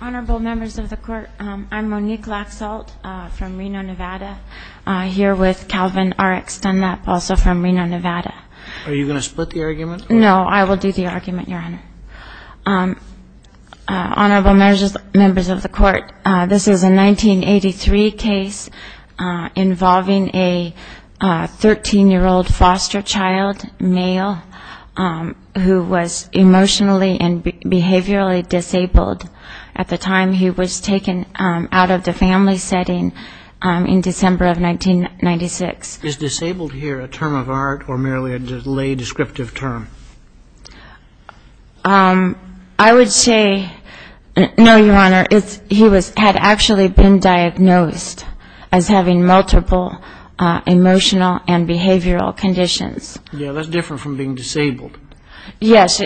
Honorable members of the court, I'm Monique Laxalt from Reno, Nevada here with Calvin Rx Dunlap, also from Reno, Nevada. Are you going to split the argument? No, I will do the argument, Your Honor. Honorable members of the court, this is a 1983 case involving a 13-year-old foster child, male, who was emotionally and behaviorally disabled at the time he was taken out of the family setting in December of 1996. Is disabled here a term of art or merely a lay descriptive term? I would say, no, Your Honor, he had actually been diagnosed as having multiple emotional and behavioral conditions. Yeah, that's different from being disabled. Yes,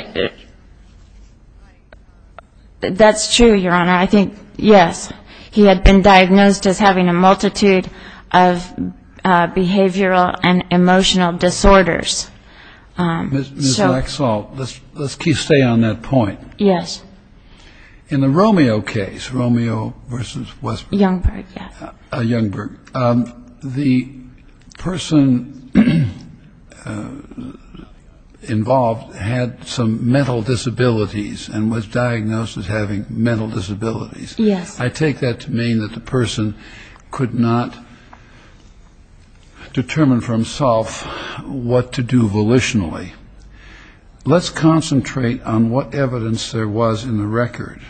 that's true, Your Honor. I think, yes, he had been diagnosed as having a multitude of behavioral and emotional disorders. Ms. Laxalt, let's stay on that point. Yes. In the Romeo case, Romeo versus Westbrook. Youngberg, yes. Youngberg, the person involved had some mental disabilities and was diagnosed as having mental disabilities. Yes. I take that to mean that the person could not determine for himself what to do volitionally. Let's concentrate on what evidence there was in the record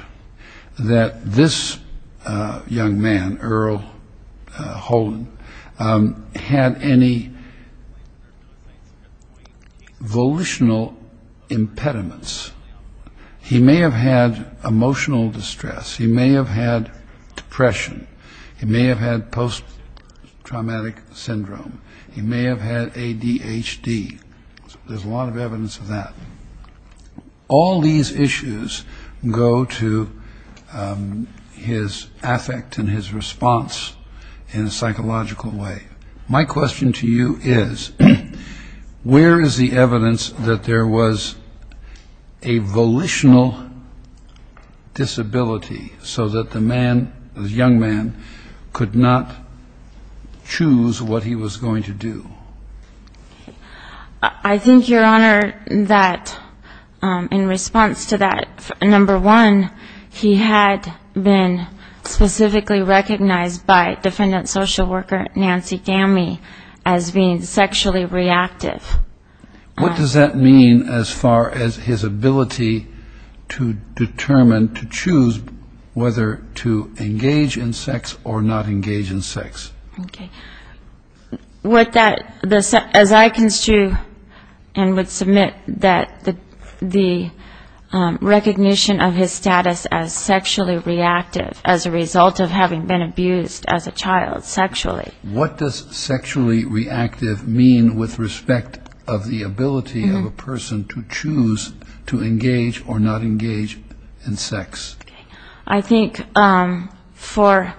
that this young man, Earl Holden, had any volitional impediments. He may have had emotional distress. He may have had depression. He may have had post-traumatic syndrome. He may have had ADHD. There's a lot of evidence of that. All these issues go to his affect and his response in a psychological way. My question to you is, where is the evidence that there was a volitional disability so that the young man could not choose what he was going to do? I think, Your Honor, that in response to that, number one, he had been specifically recognized by defendant social worker Nancy Gamey as being sexually reactive. What does that mean as far as his ability to determine, to choose whether to engage in sex or not engage in sex? As I construe and would submit that the recognition of his status as sexually reactive as a result of having been abused as a child sexually. What does sexually reactive mean with respect of the ability of a person to choose to engage or not engage in sex? I think for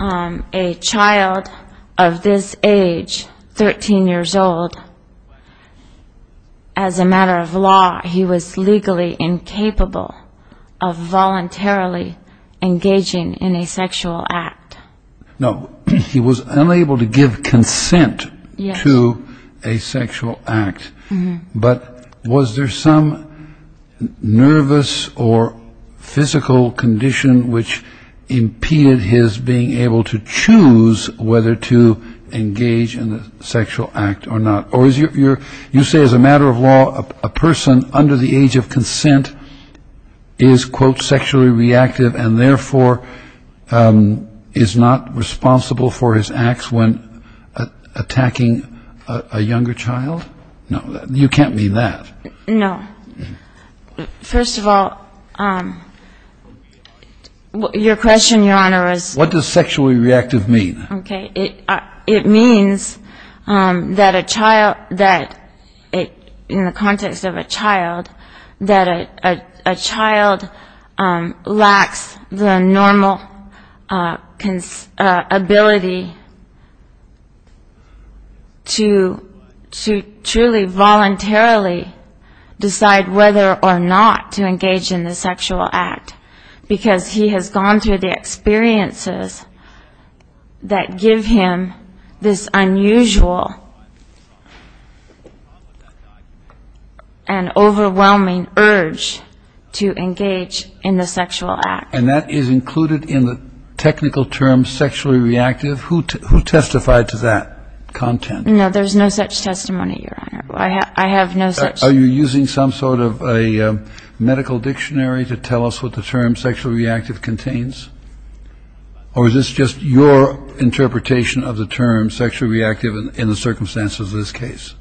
a child of this age, 13 years old, as a matter of law, he was legally incapable of voluntarily engaging in a sexual act. No, he was unable to give consent to a sexual act. But was there some nervous or physical condition which impeded his being able to choose whether to engage in a sexual act or not? You say as a matter of law, a person under the age of consent is, quote, sexually reactive and therefore is not responsible for his acts when attacking a younger child? No, you can't mean that. No. First of all, your question, Your Honor, is. What does sexually reactive mean? It means that a child, in the context of a child, that a child lacks the normal ability to truly voluntarily decide whether or not to engage in the sexual act. Because he has gone through the experiences that give him this unusual and overwhelming urge to engage in the sexual act. And that is included in the technical term sexually reactive? Who testified to that content? No, there's no such testimony, Your Honor. I have no such. Are you using some sort of a medical dictionary to tell us what the term sexually reactive contains? Or is this just your interpretation of the term sexually reactive in the circumstances of this case?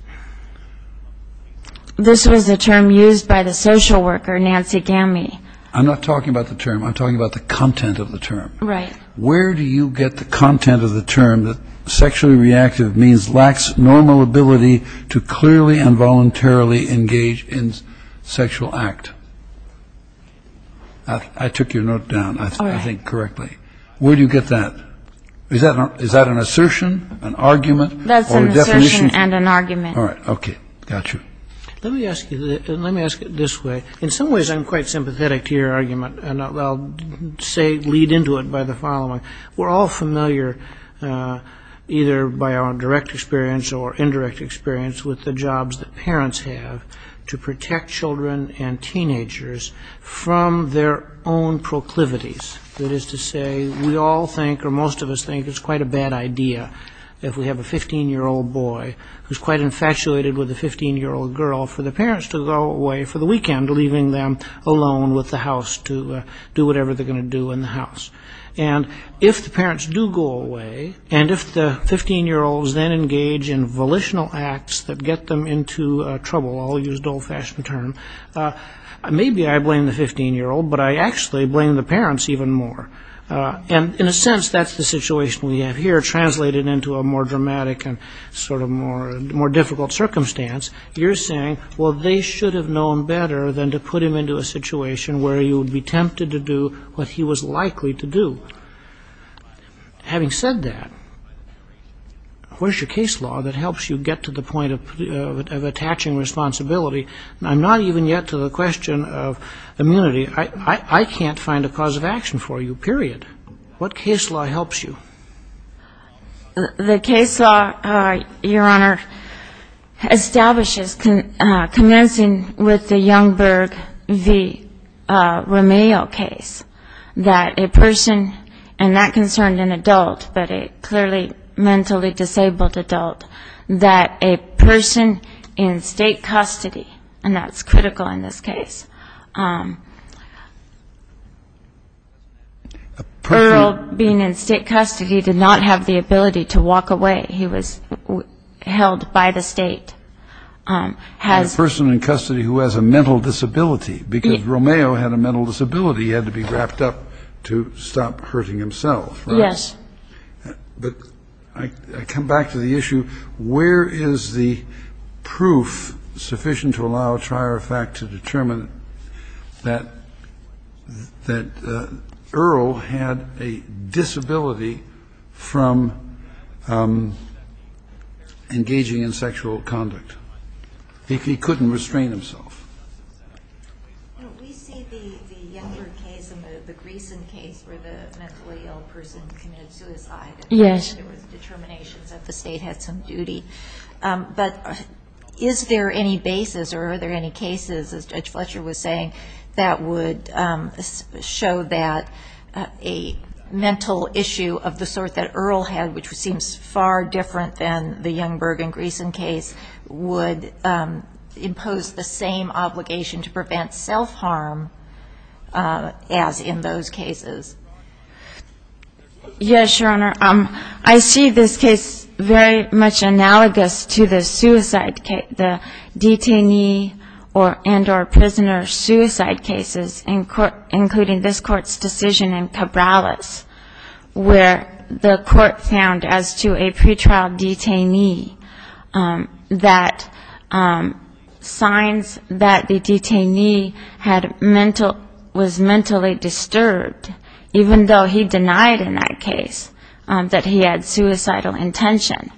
This was a term used by the social worker, Nancy Gammy. I'm not talking about the term. I'm talking about the content of the term. Right. Where do you get the content of the term that sexually reactive means lacks normal ability to clearly and voluntarily engage in sexual act? I took your note down, I think, correctly. All right. Where do you get that? Is that an assertion, an argument, or a definition? That's an assertion and an argument. All right. Okay. Got you. Let me ask it this way. In some ways, I'm quite sympathetic to your argument, and I'll lead into it by the following. We're all familiar, either by our direct experience or indirect experience, with the jobs that parents have to protect children and teenagers from their own proclivities. That is to say, we all think, or most of us think, it's quite a bad idea if we have a 15-year-old boy who's quite infatuated with a 15-year-old girl, for the parents to go away for the weekend, leaving them alone with the house to do whatever they're going to do in the house. And if the parents do go away, and if the 15-year-olds then engage in volitional acts that get them into trouble, I'll use an old-fashioned term, maybe I blame the 15-year-old, but I actually blame the parents even more. And in a sense, that's the situation we have here, translated into a more dramatic and sort of more difficult circumstance. You're saying, well, they should have known better than to put him into a situation where he would be tempted to do what he was likely to do. Having said that, where's your case law that helps you get to the point of attaching responsibility? I'm not even yet to the question of immunity. I can't find a cause of action for you, period. What case law helps you? The case law, Your Honor, establishes, commencing with the Youngberg v. Romeo case, that a person, and that concerned an adult, but a clearly mentally disabled adult, that a person in state custody, and that's critical in this case, Earl, being in state custody, did not have the ability to walk away. He was held by the state. A person in custody who has a mental disability, because Romeo had a mental disability, he had to be wrapped up to stop hurting himself. Yes. But I come back to the issue, where is the proof sufficient to allow a trier of fact to determine that Earl had a disability from engaging in sexual conduct? He couldn't restrain himself. We see the Youngberg case and the Greeson case where the mentally ill person committed suicide. Yes. There were determinations that the state had some duty. But is there any basis, or are there any cases, as Judge Fletcher was saying, that would show that a mental issue of the sort that Earl had, which seems far different than the Youngberg and Greeson case, would impose the same obligation to prevent self-harm as in those cases? Yes, Your Honor. I see this case very much analogous to the suicide case, the detainee and or prisoner suicide cases, including this Court's decision in Cabrales, where the Court found as to a pretrial detainee that signs that the detainee was mentally disturbed, even though he denied in that case that he had suicidal intention,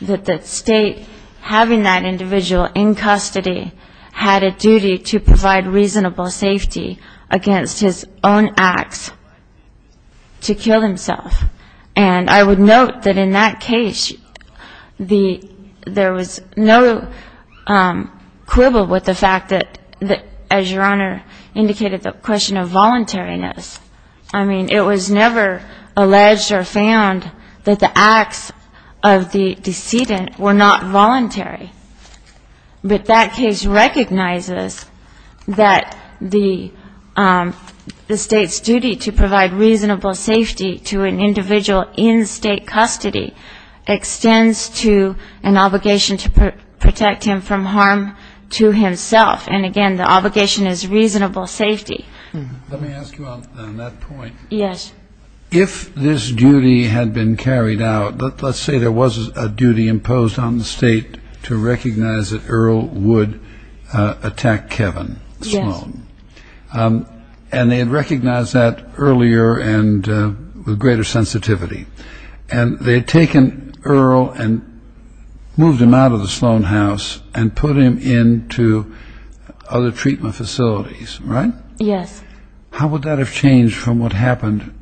that the state having that individual in custody had a duty to provide reasonable safety against his own acts to kill himself. And I would note that in that case, there was no quibble with the fact that, as Your Honor indicated, the question of voluntariness. I mean, it was never alleged or found that the acts of the decedent were not voluntary. But that case recognizes that the state's duty to provide reasonable safety to an individual in state custody extends to an obligation to protect him from harm to himself, and again, the obligation is reasonable safety. Let me ask you on that point. Yes. If this duty had been carried out, let's say there was a duty imposed on the state to recognize that Earl would attack Kevin Sloan. Yes. And they had recognized that earlier and with greater sensitivity. And they had taken Earl and moved him out of the Sloan house and put him into other treatment facilities, right? Yes. How would that have changed from what happened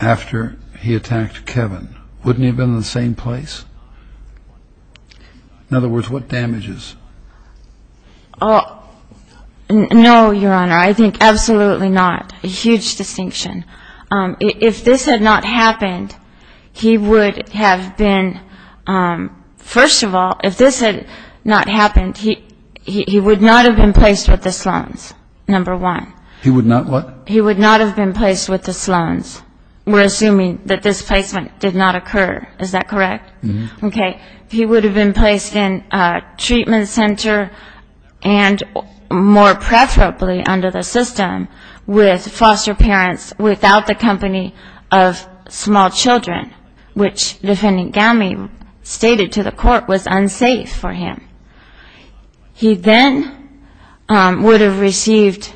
after he attacked Kevin? Wouldn't he have been in the same place? In other words, what damages? No, Your Honor. I think absolutely not. A huge distinction. If this had not happened, he would have been, first of all, if this had not happened, he would not have been placed with the Sloans, number one. He would not what? He would not have been placed with the Sloans. We're assuming that this placement did not occur. Is that correct? Mm-hmm. Okay. He would have been placed in a treatment center and more preferably under the system with foster parents without the company of small children, which Defendant Gowmey stated to the court was unsafe for him. He then would have received,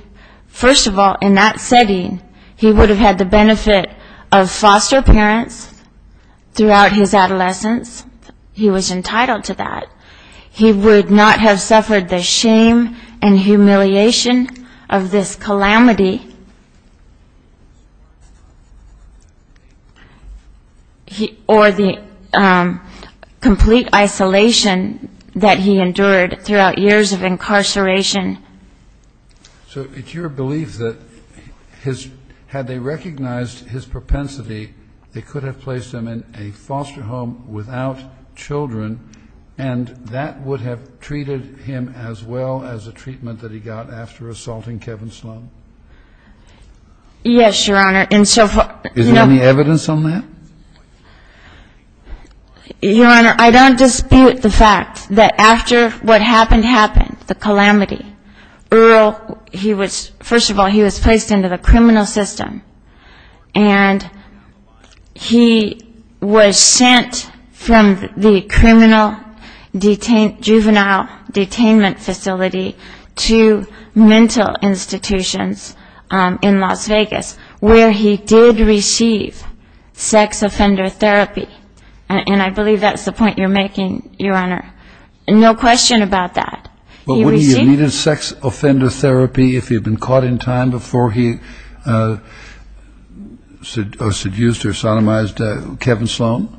first of all, in that setting, he would have had the benefit of foster parents throughout his adolescence. He was entitled to that. He would not have suffered the shame and humiliation of this calamity or the complete isolation that he endured throughout years of incarceration. So it's your belief that had they recognized his propensity, they could have placed him in a foster home without children, and that would have treated him as well as the treatment that he got after assaulting Kevin Sloan? Yes, Your Honor. Is there any evidence on that? Your Honor, I don't dispute the fact that after what happened happened, the calamity, Earl, he was, first of all, he was placed into the criminal system, and he was sent from the criminal juvenile detainment facility to mental institutions in Las Vegas, where he did receive sex offender therapy, and I believe that's the point you're making, Your Honor. No question about that. But wouldn't he have needed sex offender therapy if he had been caught in time before he seduced or sodomized Kevin Sloan?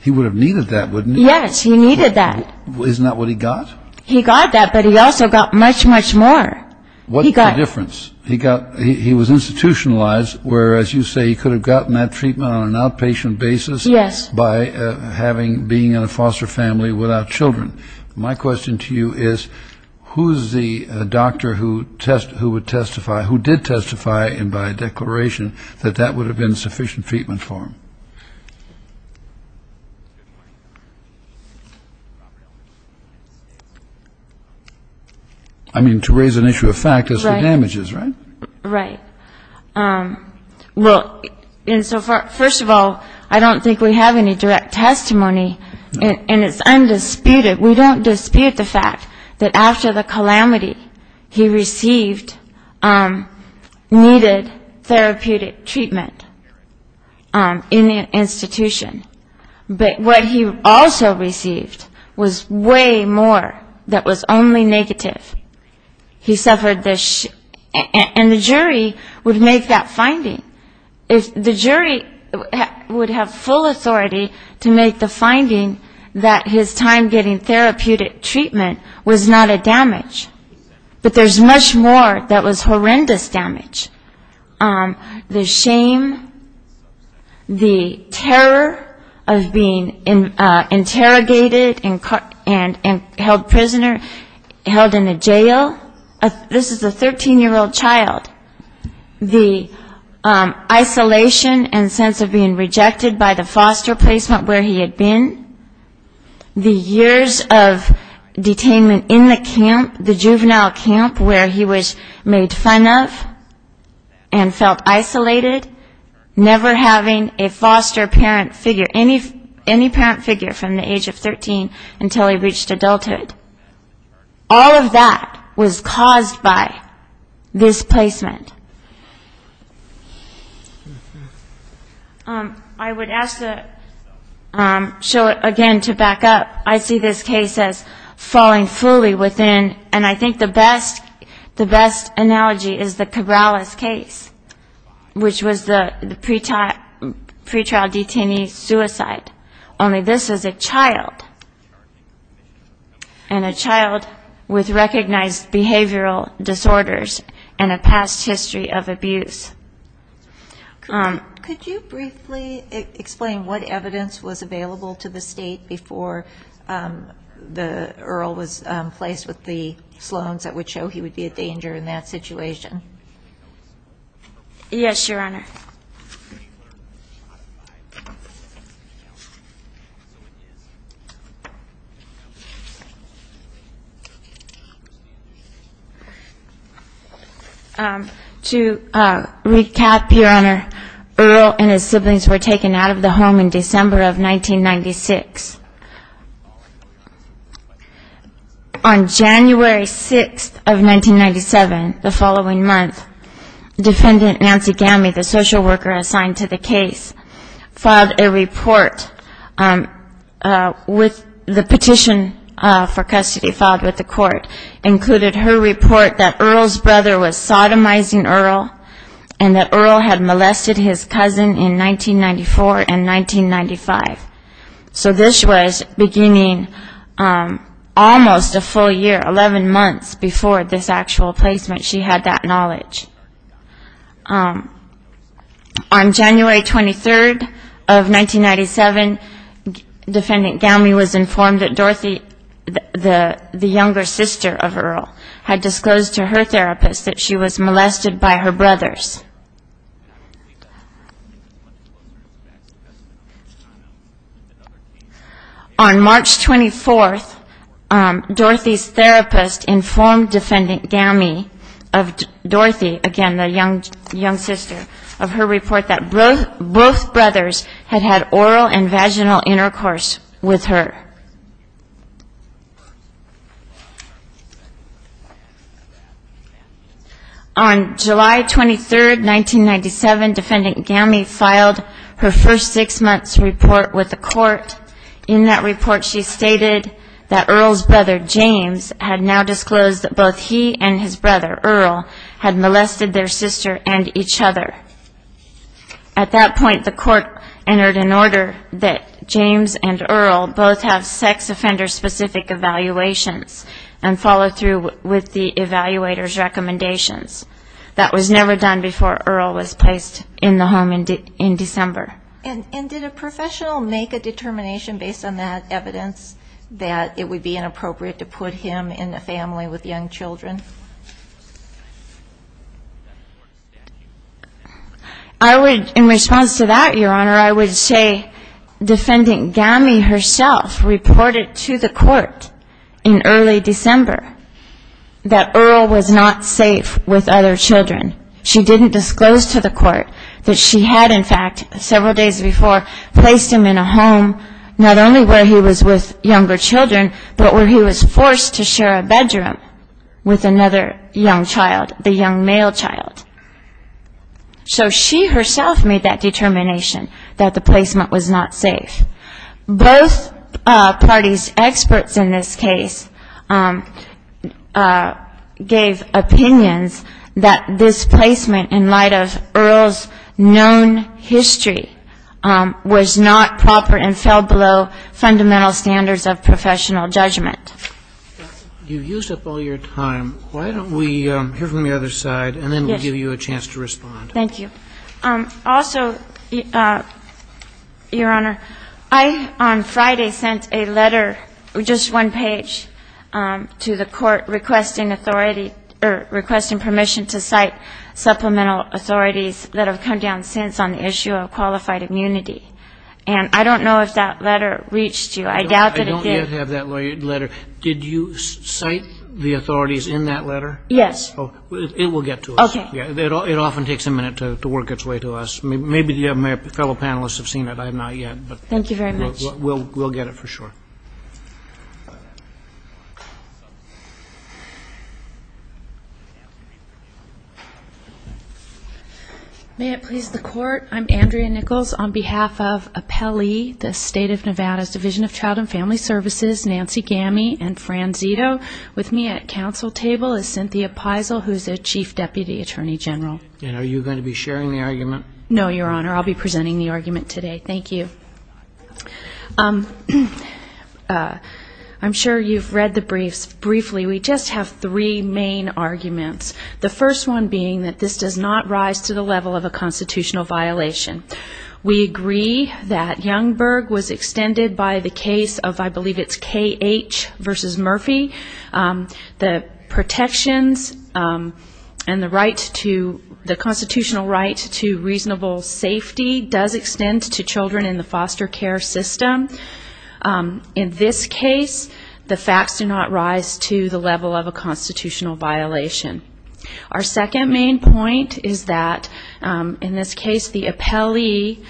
He would have needed that, wouldn't he? Yes, he needed that. Isn't that what he got? He got that, but he also got much, much more. What's the difference? He got, he was institutionalized, where, as you say, he could have gotten that treatment on an outpatient basis by having, being in a foster family without children. My question to you is, who's the doctor who test, who would testify, who did testify, and by declaration, that that would have been sufficient treatment for him? I mean, to raise an issue of factors for damages, right? Right. Well, and so first of all, I don't think we have any direct testimony, and it's undisputed. We don't dispute the fact that after the calamity, he received, needed therapeutic treatment in the institution. But what he also received was way more that was only negative. He suffered the, and the jury would make that finding. The jury would have full authority to make the finding that his time getting therapeutic treatment was not a damage. But there's much more that was horrendous damage. The shame, the terror of being interrogated and held prisoner, held in a jail. This is a 13-year-old child. The isolation and sense of being rejected by the foster placement where he had been. The years of detainment in the camp, the juvenile camp where he was made fun of. And felt isolated, never having a foster parent figure, any parent figure from the age of 13 until he reached adulthood. All of that was caused by this placement. I would ask to show it again to back up. I see this case as falling fully within, and I think the best analogy is the Cabrales case. Which was the pretrial detainee suicide. Only this is a child, and a child with recognized behavioral disorders and a past history of abuse. Could you briefly explain what evidence was available to the state before the Earl was placed with the Sloans that would show he would be a danger in that situation? Yes, Your Honor. To recap, Your Honor, Earl and his siblings were taken out of the home in December of 1996. On January 6th of 1997, the following month, defendant Nancy Gamme, the social worker assigned to the case, filed a report with the petition for custody filed with the court. Included her report that Earl's brother was sodomizing Earl, and that Earl had molested his cousin in 1994 and 1995. So this was beginning almost a full year, 11 months before this actual placement, she had that knowledge. On January 23rd of 1997, defendant Gamme was informed that Dorothy, the younger sister of Earl, had disclosed to her therapist that she was molested by her brothers. On March 24th, Dorothy's therapist informed defendant Gamme of Dorothy, again, the young sister, of her report that both brothers had had oral and vaginal intercourse with her. On July 23rd, 1997, defendant Gamme filed her first six-months report with the court. In that report, she stated that Earl's brother, James, had now disclosed that both he and his brother, Earl, had molested their sister and each other. At that point, the court entered an order that James and Earl both have sex offender-specific evaluations and follow through with the evaluator's recommendations. That was never done before Earl was placed in the home in December. And did a professional make a determination based on that evidence that it would be inappropriate to put him in a family with young children? I would, in response to that, Your Honor, I would say defendant Gamme herself reported to the court in early December that Earl was not safe with other children. She didn't disclose to the court that she had, in fact, several days before, placed him in a home, not only where he was with younger children, but where he was forced to share a bedroom with another young child, the young male child. So she herself made that determination that the placement was not safe. Both parties' experts in this case gave opinions that this was not safe. And that this placement, in light of Earl's known history, was not proper and fell below fundamental standards of professional judgment. You've used up all your time. Why don't we hear from the other side, and then we'll give you a chance to respond. Thank you. Also, Your Honor, I, on Friday, sent a letter, just one page, to the court requesting permission to cite supplemental authorities that have come down since on the issue of qualified immunity. And I don't know if that letter reached you. I doubt that it did. I don't yet have that letter. Did you cite the authorities in that letter? Yes. It will get to us. It often takes a minute to work its way to us. May it please the Court, I'm Andrea Nichols, on behalf of Appellee, the State of Nevada's Division of Child and Family Services, Nancy Gamme, and Fran Zito. With me at council table is Cynthia Peisel, who's a Chief Deputy Attorney General. And are you going to be sharing the argument? No, Your Honor. I'll be presenting the argument today. Thank you. I'm sure you've read the briefs. Briefly, we just have three main arguments. The first one being that this does not rise to the level of a constitutional violation. We agree that Youngberg was extended by the case of, I believe it's K.H. versus Murphy. The protections and the constitutional right to reasonable safety does extend to children in the foster care system. In this case, the facts do not rise to the level of a constitutional violation. Our second main point is that, in this case, the appellee,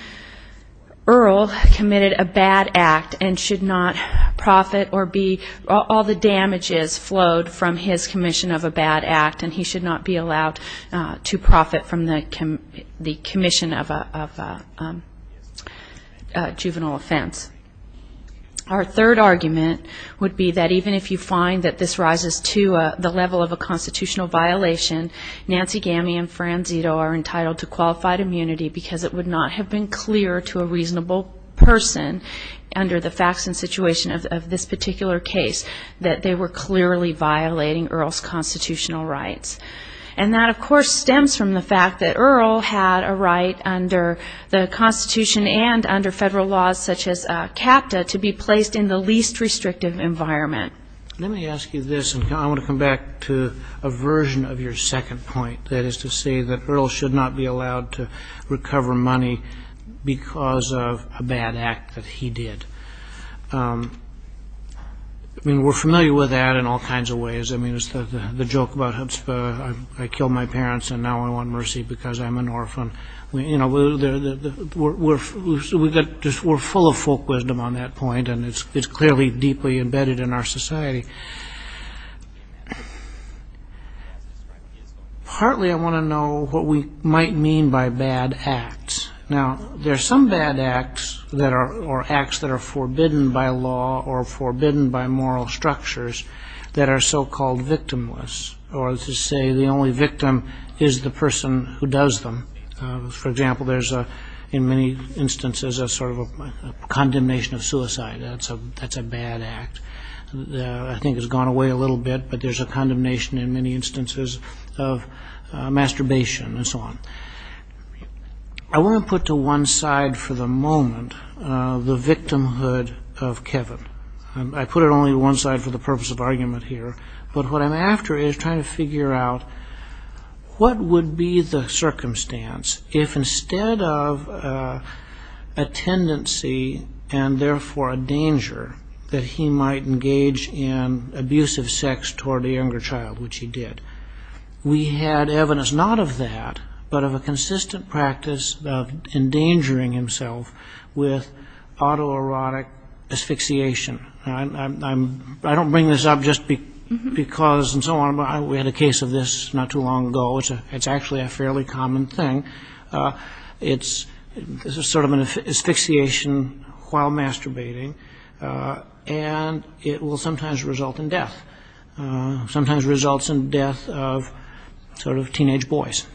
Earl, committed a bad act and should not profit or be all the damages flowed from his commission of a bad act and he should not be allowed to profit from the commission of a juvenile offense. Our third argument would be that even if you find that this rises to the level of a constitutional violation, Nancy Gamme and Fran Zito are entitled to qualified immunity because it would not have been clear to a reasonable person under the facts and situation of this particular case that they were clearly violating Earl's constitutional rights. And that, of course, stems from the fact that Earl had a right under the Constitution and under Federal laws such as CAPTA to be placed in the least restrictive environment. And that's your second point, that is to say that Earl should not be allowed to recover money because of a bad act that he did. I mean, we're familiar with that in all kinds of ways. I mean, it's the joke about, I killed my parents and now I want mercy because I'm an orphan. We're full of folk wisdom on that point, and it's clearly deeply embedded in our society. Partly I want to know what we might mean by bad acts. Now, there are some bad acts or acts that are forbidden by law or forbidden by moral structures that are so-called victimless, or to say the only victim is the person who does them. For example, there's in many instances a sort of a condemnation of suicide. That's a bad act. I think it's gone away a little bit, but there's a condemnation in many instances of masturbation and so on. I want to put to one side for the moment the victimhood of Kevin. I put it only to one side for the purpose of argument here, but what I'm after is trying to figure out what would be the circumstance if instead of a tendency and therefore a danger that he might engage in abusive sex toward a younger child, which he did. We had evidence not of that, but of a consistent practice of endangering himself with autoerotic asphyxiation. I don't bring this up just because and so on, but we had a case of this not too long ago. It's actually a fairly common thing. It's sort of an asphyxiation while masturbating, and it will sometimes result in death. Sometimes it results in death of sort of teenage boys.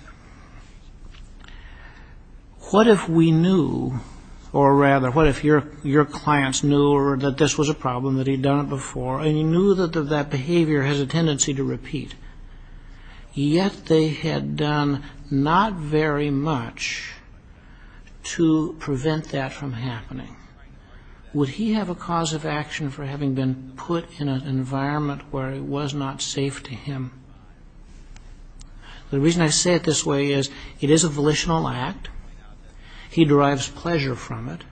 What if we knew, or rather what if your clients knew that this was a problem, that he'd done it before, and he knew that that behavior has a tendency to repeat, yet they had done not very much to prevent that from happening. Would he have a cause of action for having been put in an environment where it was not safe to him? The reason I say it this way is it is a volitional act. He derives pleasure from it.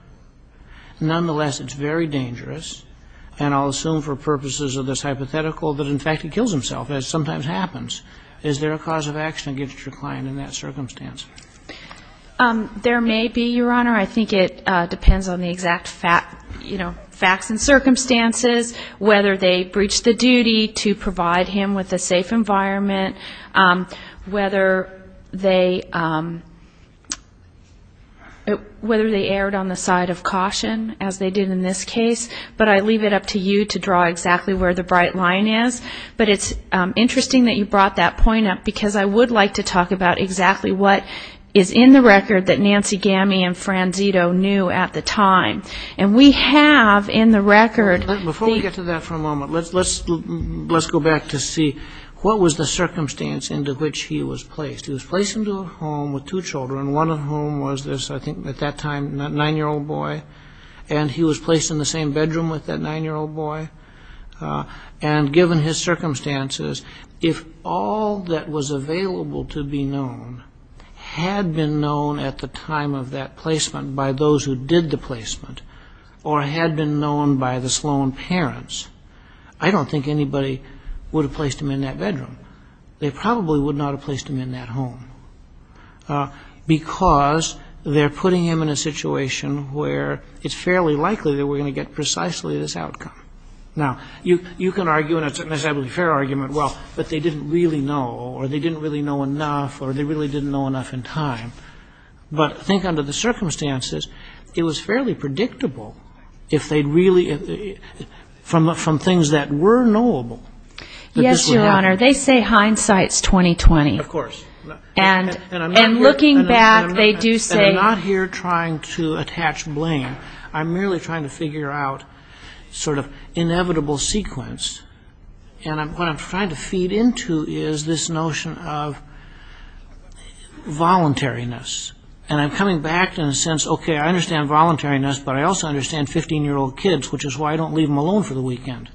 Nonetheless, it's very dangerous, and I'll assume for purposes of this hypothetical that in fact he kills himself, as sometimes happens. Is there a cause of action against your client in that circumstance? There may be, Your Honor. I think it depends on the exact facts and circumstances, whether they breached the duty to provide him with a safe environment, whether they erred on the side of caution, as they did in this case. But I leave it up to you to draw exactly where the bright line is. But it's interesting that you brought that point up, because I would like to talk about exactly what is in the record that Nancy Gamme and Franzito knew at the time. And we have in the record... Before we get to that for a moment, let's go back to see what was the circumstance into which he was placed. He was placed into a home with two children, one of whom was this, I think at that time, nine-year-old boy. And he was placed in the same bedroom with that nine-year-old boy. And given his circumstances, if all that was available to be known had been known at the time of that placement by those who did the placement, or had been known by the Sloan parents, I don't think anybody would have placed him in that bedroom. They probably would not have placed him in that home, because they're putting him in a situation where it's fairly likely they were going to get precisely this outcome. Now, you can argue, and it's a necessarily fair argument, well, but they didn't really know, or they didn't really know enough, or they really didn't know enough in time. But think under the circumstances. It was fairly predictable if they'd really, from things that were knowable... Yes, Your Honor, they say hindsight's 20-20. And I'm not here trying to attach blame. I'm merely trying to figure out sort of inevitable sequence, and what I'm trying to feed into is this notion of voluntariness. And I'm coming back in a sense, okay, I understand voluntariness, but I also understand 15-year-old kids, which is why I don't leave them alone for the weekend.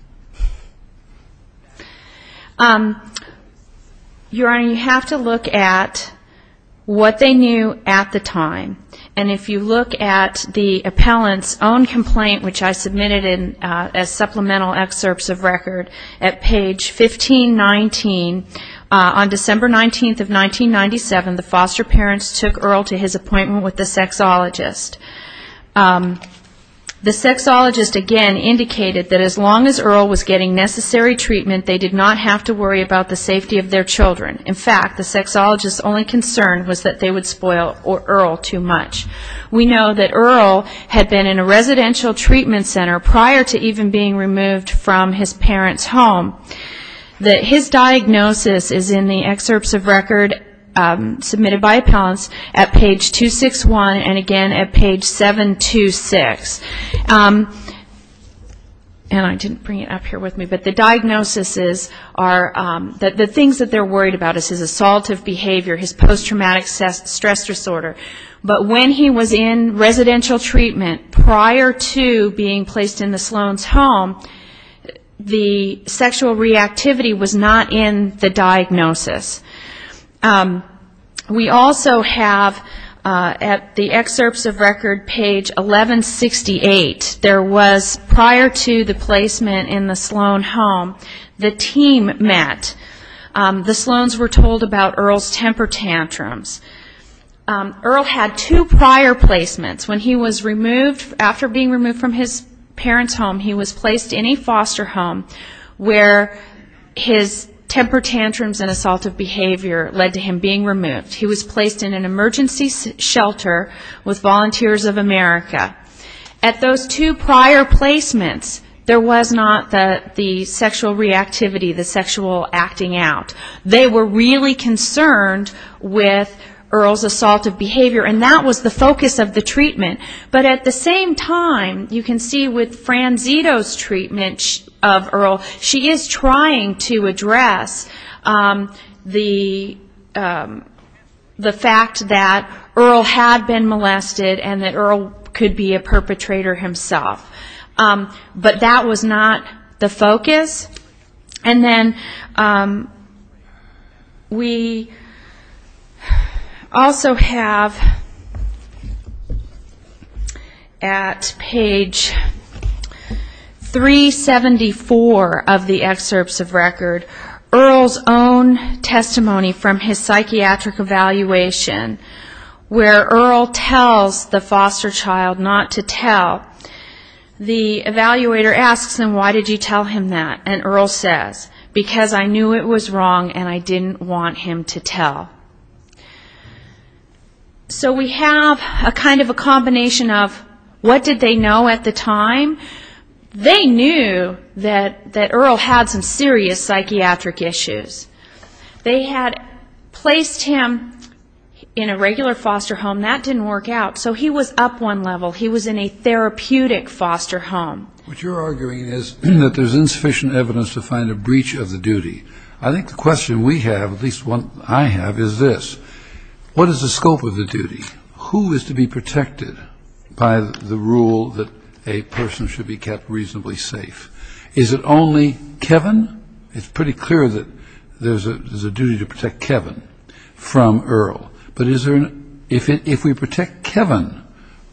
Your Honor, you have to look at what they knew at the time. And if you look at the appellant's own complaint, which I submitted as supplemental excerpts of record, at page 1519, on December 19th of 1997, the foster parents took Earl to his appointment with the sexologist. The sexologist, again, indicated that as long as Earl was getting necessary treatment, they did not have to worry about the safety of their children. In fact, the sexologist's only concern was that they would spoil Earl too much. We know that Earl had been in a residential treatment center prior to even being removed from his parents' home. His diagnosis is in the excerpts of record submitted by appellants at page 261 and again at page 726. And I didn't bring it up here with me, but the diagnoses are that the things that they're worried about is his assaultive behavior, his post-traumatic stress disorder, but when he was in residential treatment prior to being placed in the Sloan's home, the sexual assault reactivity was not in the diagnosis. We also have, at the excerpts of record, page 1168, there was prior to the placement in the Sloan home, the team met. The Sloans were told about Earl's temper tantrums. Earl had two prior placements. When he was removed, after being removed from his parents' home, he was placed in a foster home where his temper tantrums and assaultive behavior led to him being removed. He was placed in an emergency shelter with Volunteers of America. At those two prior placements, there was not the sexual reactivity, the sexual acting out. They were really concerned with Earl's assaultive behavior, and that was the focus of the treatment. But at the same time, you can see with Franzito's treatment of Earl, she is trying to address the fact that Earl had been molested and that Earl could be a perpetrator himself. But that was not the focus. And then we also have... At page 374 of the excerpts of record, Earl's own testimony from his psychiatric evaluation, where Earl tells the foster child not to tell, the evaluator asks him, why did you tell him that? And Earl says, because I knew it was wrong and I didn't want him to tell. So we have a kind of a combination of what did they know at the time? They knew that Earl had some serious psychiatric issues. They had placed him in a regular foster home. That didn't work out, so he was up one level. He was in a therapeutic foster home. So what you're arguing is that there's insufficient evidence to find a breach of the duty. I think the question we have, at least one I have, is this. What is the scope of the duty? Who is to be protected by the rule that a person should be kept reasonably safe? Is it only Kevin? It's pretty clear that there's a duty to protect Kevin from Earl. But if we protect Kevin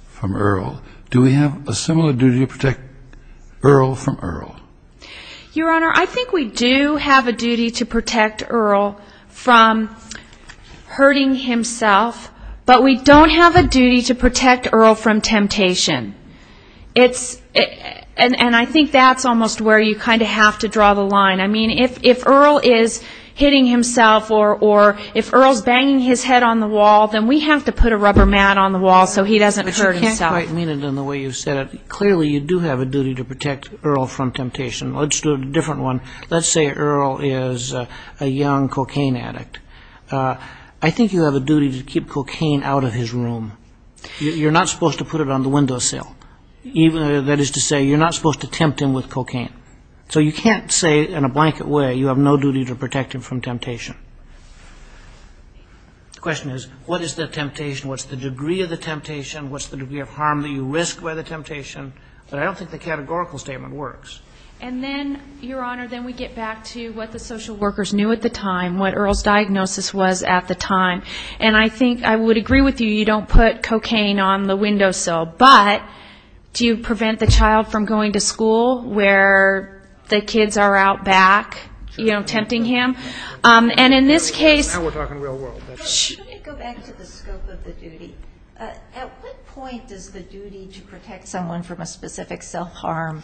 from Earl, do we have a similar duty to protect Earl from Earl? Your Honor, I think we do have a duty to protect Earl from hurting himself, but we don't have a duty to protect Earl from temptation. And I think that's almost where you kind of have to draw the line. I mean, if Earl is hitting himself or if Earl's banging his head on the wall, then we have to put a rubber mat on the wall so he doesn't hurt himself. But you can't quite mean it in the way you said it. Clearly you do have a duty to protect Earl from temptation. Let's do a different one. Let's say Earl is a young cocaine addict. I think you have a duty to keep cocaine out of his room. You're not supposed to put it on the windowsill. That is to say, you're not supposed to tempt him with cocaine. So you can't say in a blanket way you have no duty to protect him from temptation. The question is, what is the temptation? What's the degree of the temptation? What's the degree of harm that you risk by the temptation? But I don't think the categorical statement works. And then, Your Honor, then we get back to what the social workers knew at the time, what Earl's diagnosis was at the time. And I think I would agree with you, you don't put cocaine on the windowsill. But do you prevent the child from going to school where the kids are out back, you know, tempting him? And in this case... Should we go back to the scope of the duty? At what point does the duty to protect someone from a specific self-harm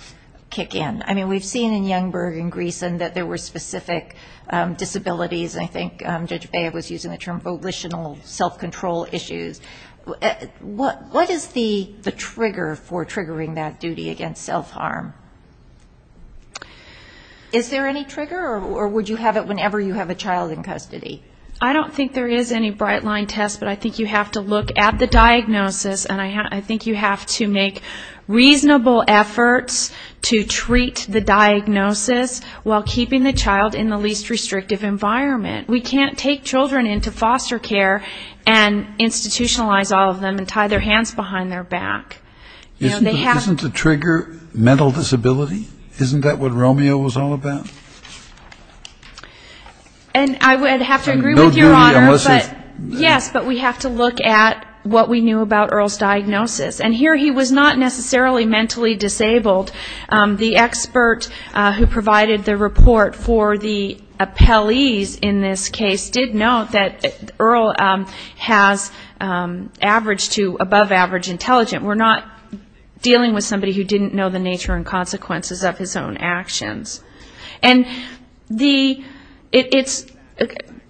kick in? I mean, we've seen in Youngberg and Greeson that there were specific disabilities, and I think Judge Bea was using the term volitional self-control issues. What is the trigger for triggering that duty against self-harm? Is there any trigger, or would you have it whenever you have a child in custody? I don't think there is any bright-line test, but I think you have to look at the diagnosis, and I think you have to make reasonable efforts to treat the diagnosis while keeping the child in the least restrictive environment. We can't take children into foster care and institutionalize all of them and tie their hands behind their back. Isn't the trigger mental disability? Isn't that what Romeo was all about? And I would have to agree with Your Honor. Yes, but we have to look at what we knew about Earl's diagnosis. And here he was not necessarily mentally disabled. The expert who provided the report for the appellees in this case did note that Earl has average to above-average intelligence. We're not dealing with somebody who didn't know the nature and consequences of his own actions.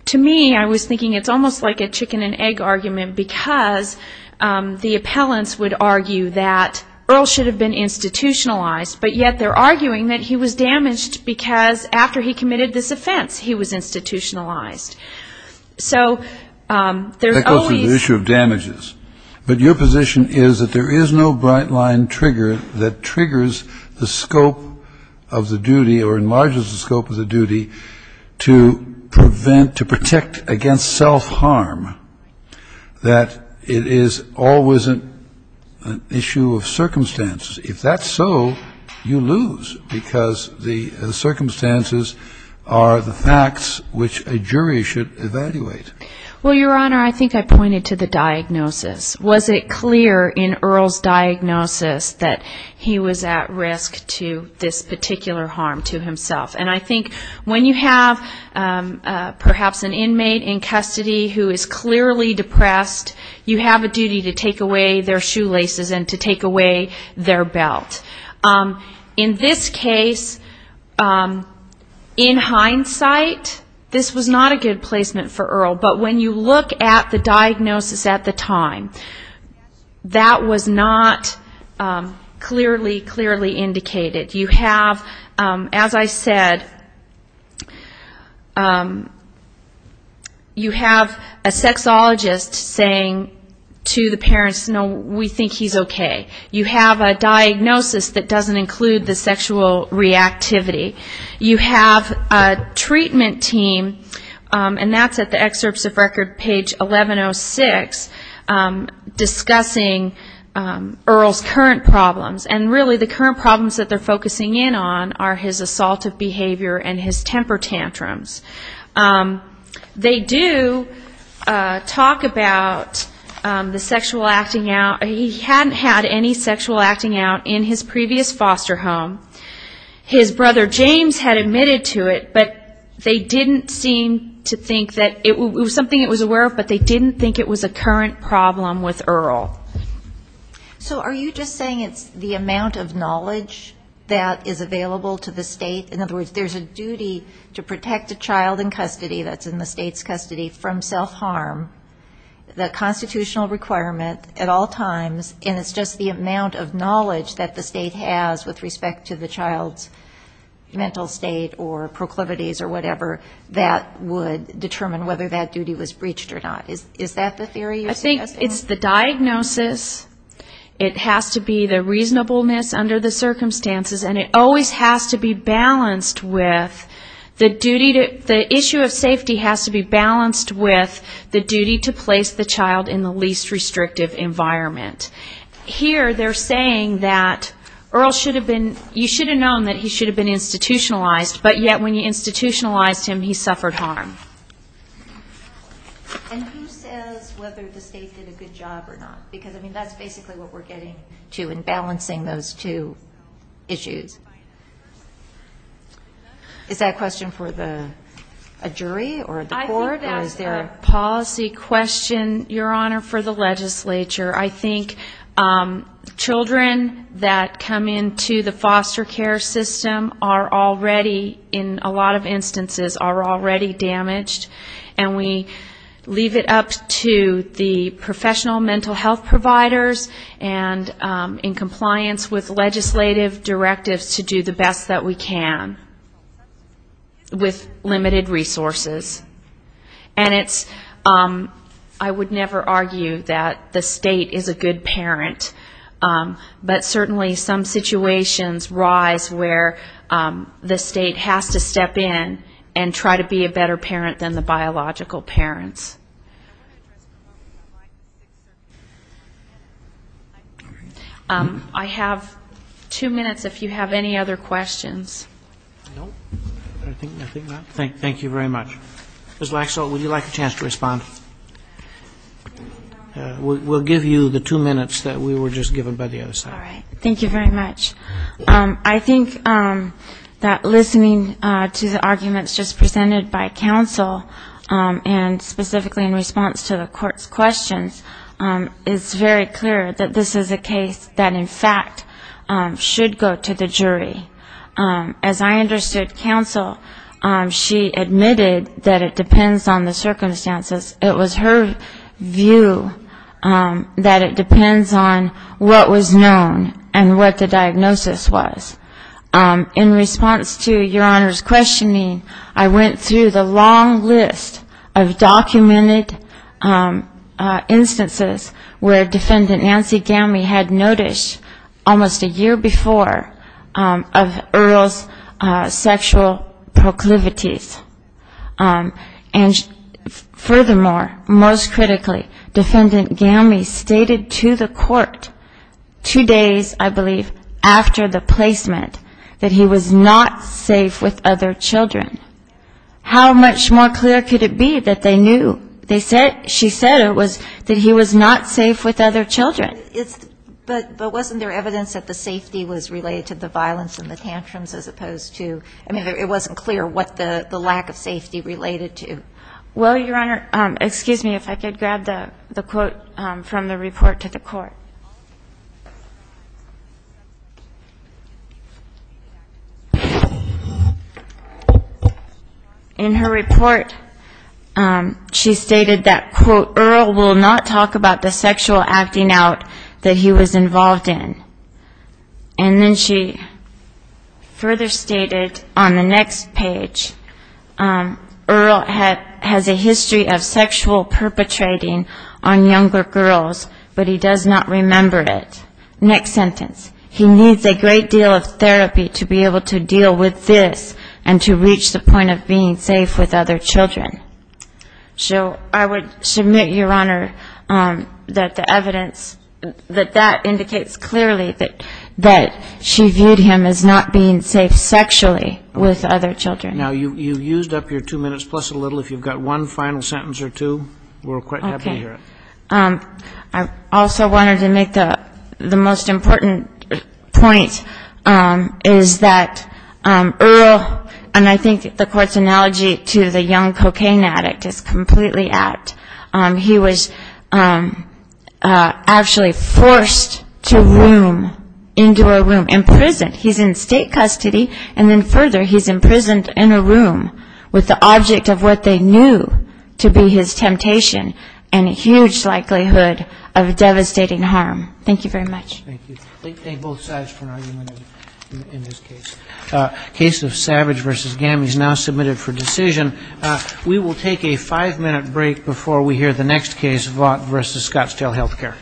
To me, I was thinking it's almost like a chicken-and-egg argument, because the appellants would argue that Earl should have been institutionalized, but yet they're arguing that he was damaged because after he committed this offense he was institutionalized. So there's always the issue of damages. But your position is that there is no bright-line trigger that triggers the scope of the duty or enlarges the scope of the duty to prevent, to protect against self-harm. That it is always an issue of circumstances. If that's so, you lose, because the circumstances are the facts which a jury should evaluate. Well, Your Honor, I think I pointed to the diagnosis. Was it clear in Earl's diagnosis that he was at risk to this particular harm to himself? And I think when you have perhaps an inmate in custody who is clearly depressed you have a duty to take away their shoelaces and to take away their belt. In this case, in hindsight, this was not a good placement for Earl. But when you look at the diagnosis at the time, that was not clearly, clearly indicated. You have, as I said, you have a sexologist saying, to the parents, no, we think he's okay. You have a diagnosis that doesn't include the sexual reactivity. You have a treatment team, and that's at the excerpts of record, page 1106, discussing Earl's current problems. And really the current problems that they're focusing in on are his assaultive behavior and his temper tantrums. They do talk about the sexual acting out. He hadn't had any sexual acting out in his previous foster home. His brother James had admitted to it, but they didn't seem to think that it was something he was aware of, but they didn't think it was a current problem with Earl. So are you just saying it's the amount of knowledge that is available to the state? In other words, there's a duty to protect a child in custody that's in the state's custody from self-harm, the constitutional requirement at all times, and it's just the amount of knowledge that the state has with respect to the child's mental state or proclivities or whatever that would determine whether that duty was breached or not? Is that the theory you're suggesting? It's the diagnosis, it has to be the reasonableness under the circumstances, and it always has to be balanced with the duty to the issue of safety has to be balanced with the duty to place the child in the least restrictive environment. Here they're saying that Earl should have been, you should have known that he should have been institutionalized, but yet when you institutionalized him, he suffered harm. And who says whether the state did a good job or not? Because, I mean, that's basically what we're getting to in balancing those two issues. Is that a question for a jury or the court? I think that's a policy question, Your Honor, for the legislature. I think children that come into the foster care system are already, in a lot of instances, are already damaged. And we leave it up to the professional mental health providers and in compliance with legislative directives to do the best that we can with limited resources. And it's, I would never argue that the state is a good parent, but certainly some situations rise where the state has to step in and try to be a better parent for the child. And I would argue that the state is a better parent than the biological parents. I have two minutes if you have any other questions. I don't. I think not. Thank you very much. Ms. Laxalt, would you like a chance to respond? We'll give you the two minutes that we were just given by the other side. All right. Thank you very much. I think that listening to the arguments just presented by counsel, and specifically in response to the court's questions, it's very clear that this is a case that, in fact, should go to the jury. As I understood counsel, she admitted that it depends on the circumstances and it was her view that it depends on what was known and what the diagnosis was. In response to Your Honor's questioning, I went through the long list of documented instances where Defendant Nancy Gamme had noticed almost a year before of Earl's sexual proclivities. And furthermore, most critically, Defendant Gamme stated to the court two days, I believe, after the placement, that he was not safe with other children. How much more clear could it be that they knew, she said it was, that he was not safe with other children? But wasn't there evidence that the safety was related to the violence and the tantrums as opposed to, I mean, it wasn't clear what the lack of safety related to? Well, Your Honor, excuse me if I could grab the quote from the report to the court. In her report, she stated that, quote, Earl will not talk about the sexual acting out that he was involved in. And then she further stated on the next page, Earl has a history of sexual perpetrating on younger girls, but he does not remember it. Next sentence. He needs a great deal of therapy to be able to deal with this and to reach the point of being safe with other children. So I would submit, Your Honor, that the evidence, that that indicates clearly that she viewed him as not being safe sexually with other children. Now, you've used up your two minutes plus a little. If you've got one final sentence or two, we're quite happy to hear it. I also wanted to make the most important point is that Earl, and I think the court's analogy to the young cocaine addict is completely apt. He was actually forced to room into a room, imprisoned. He's in state custody, and then further, he's imprisoned in a room with the object of what they knew to be his temptation and a huge lack of safety. And he's in state custody, and so he's in a much greater likelihood of devastating harm. Thank you very much. We will take a five-minute break before we hear the next case, Vaught v. Scottsdale Health Care.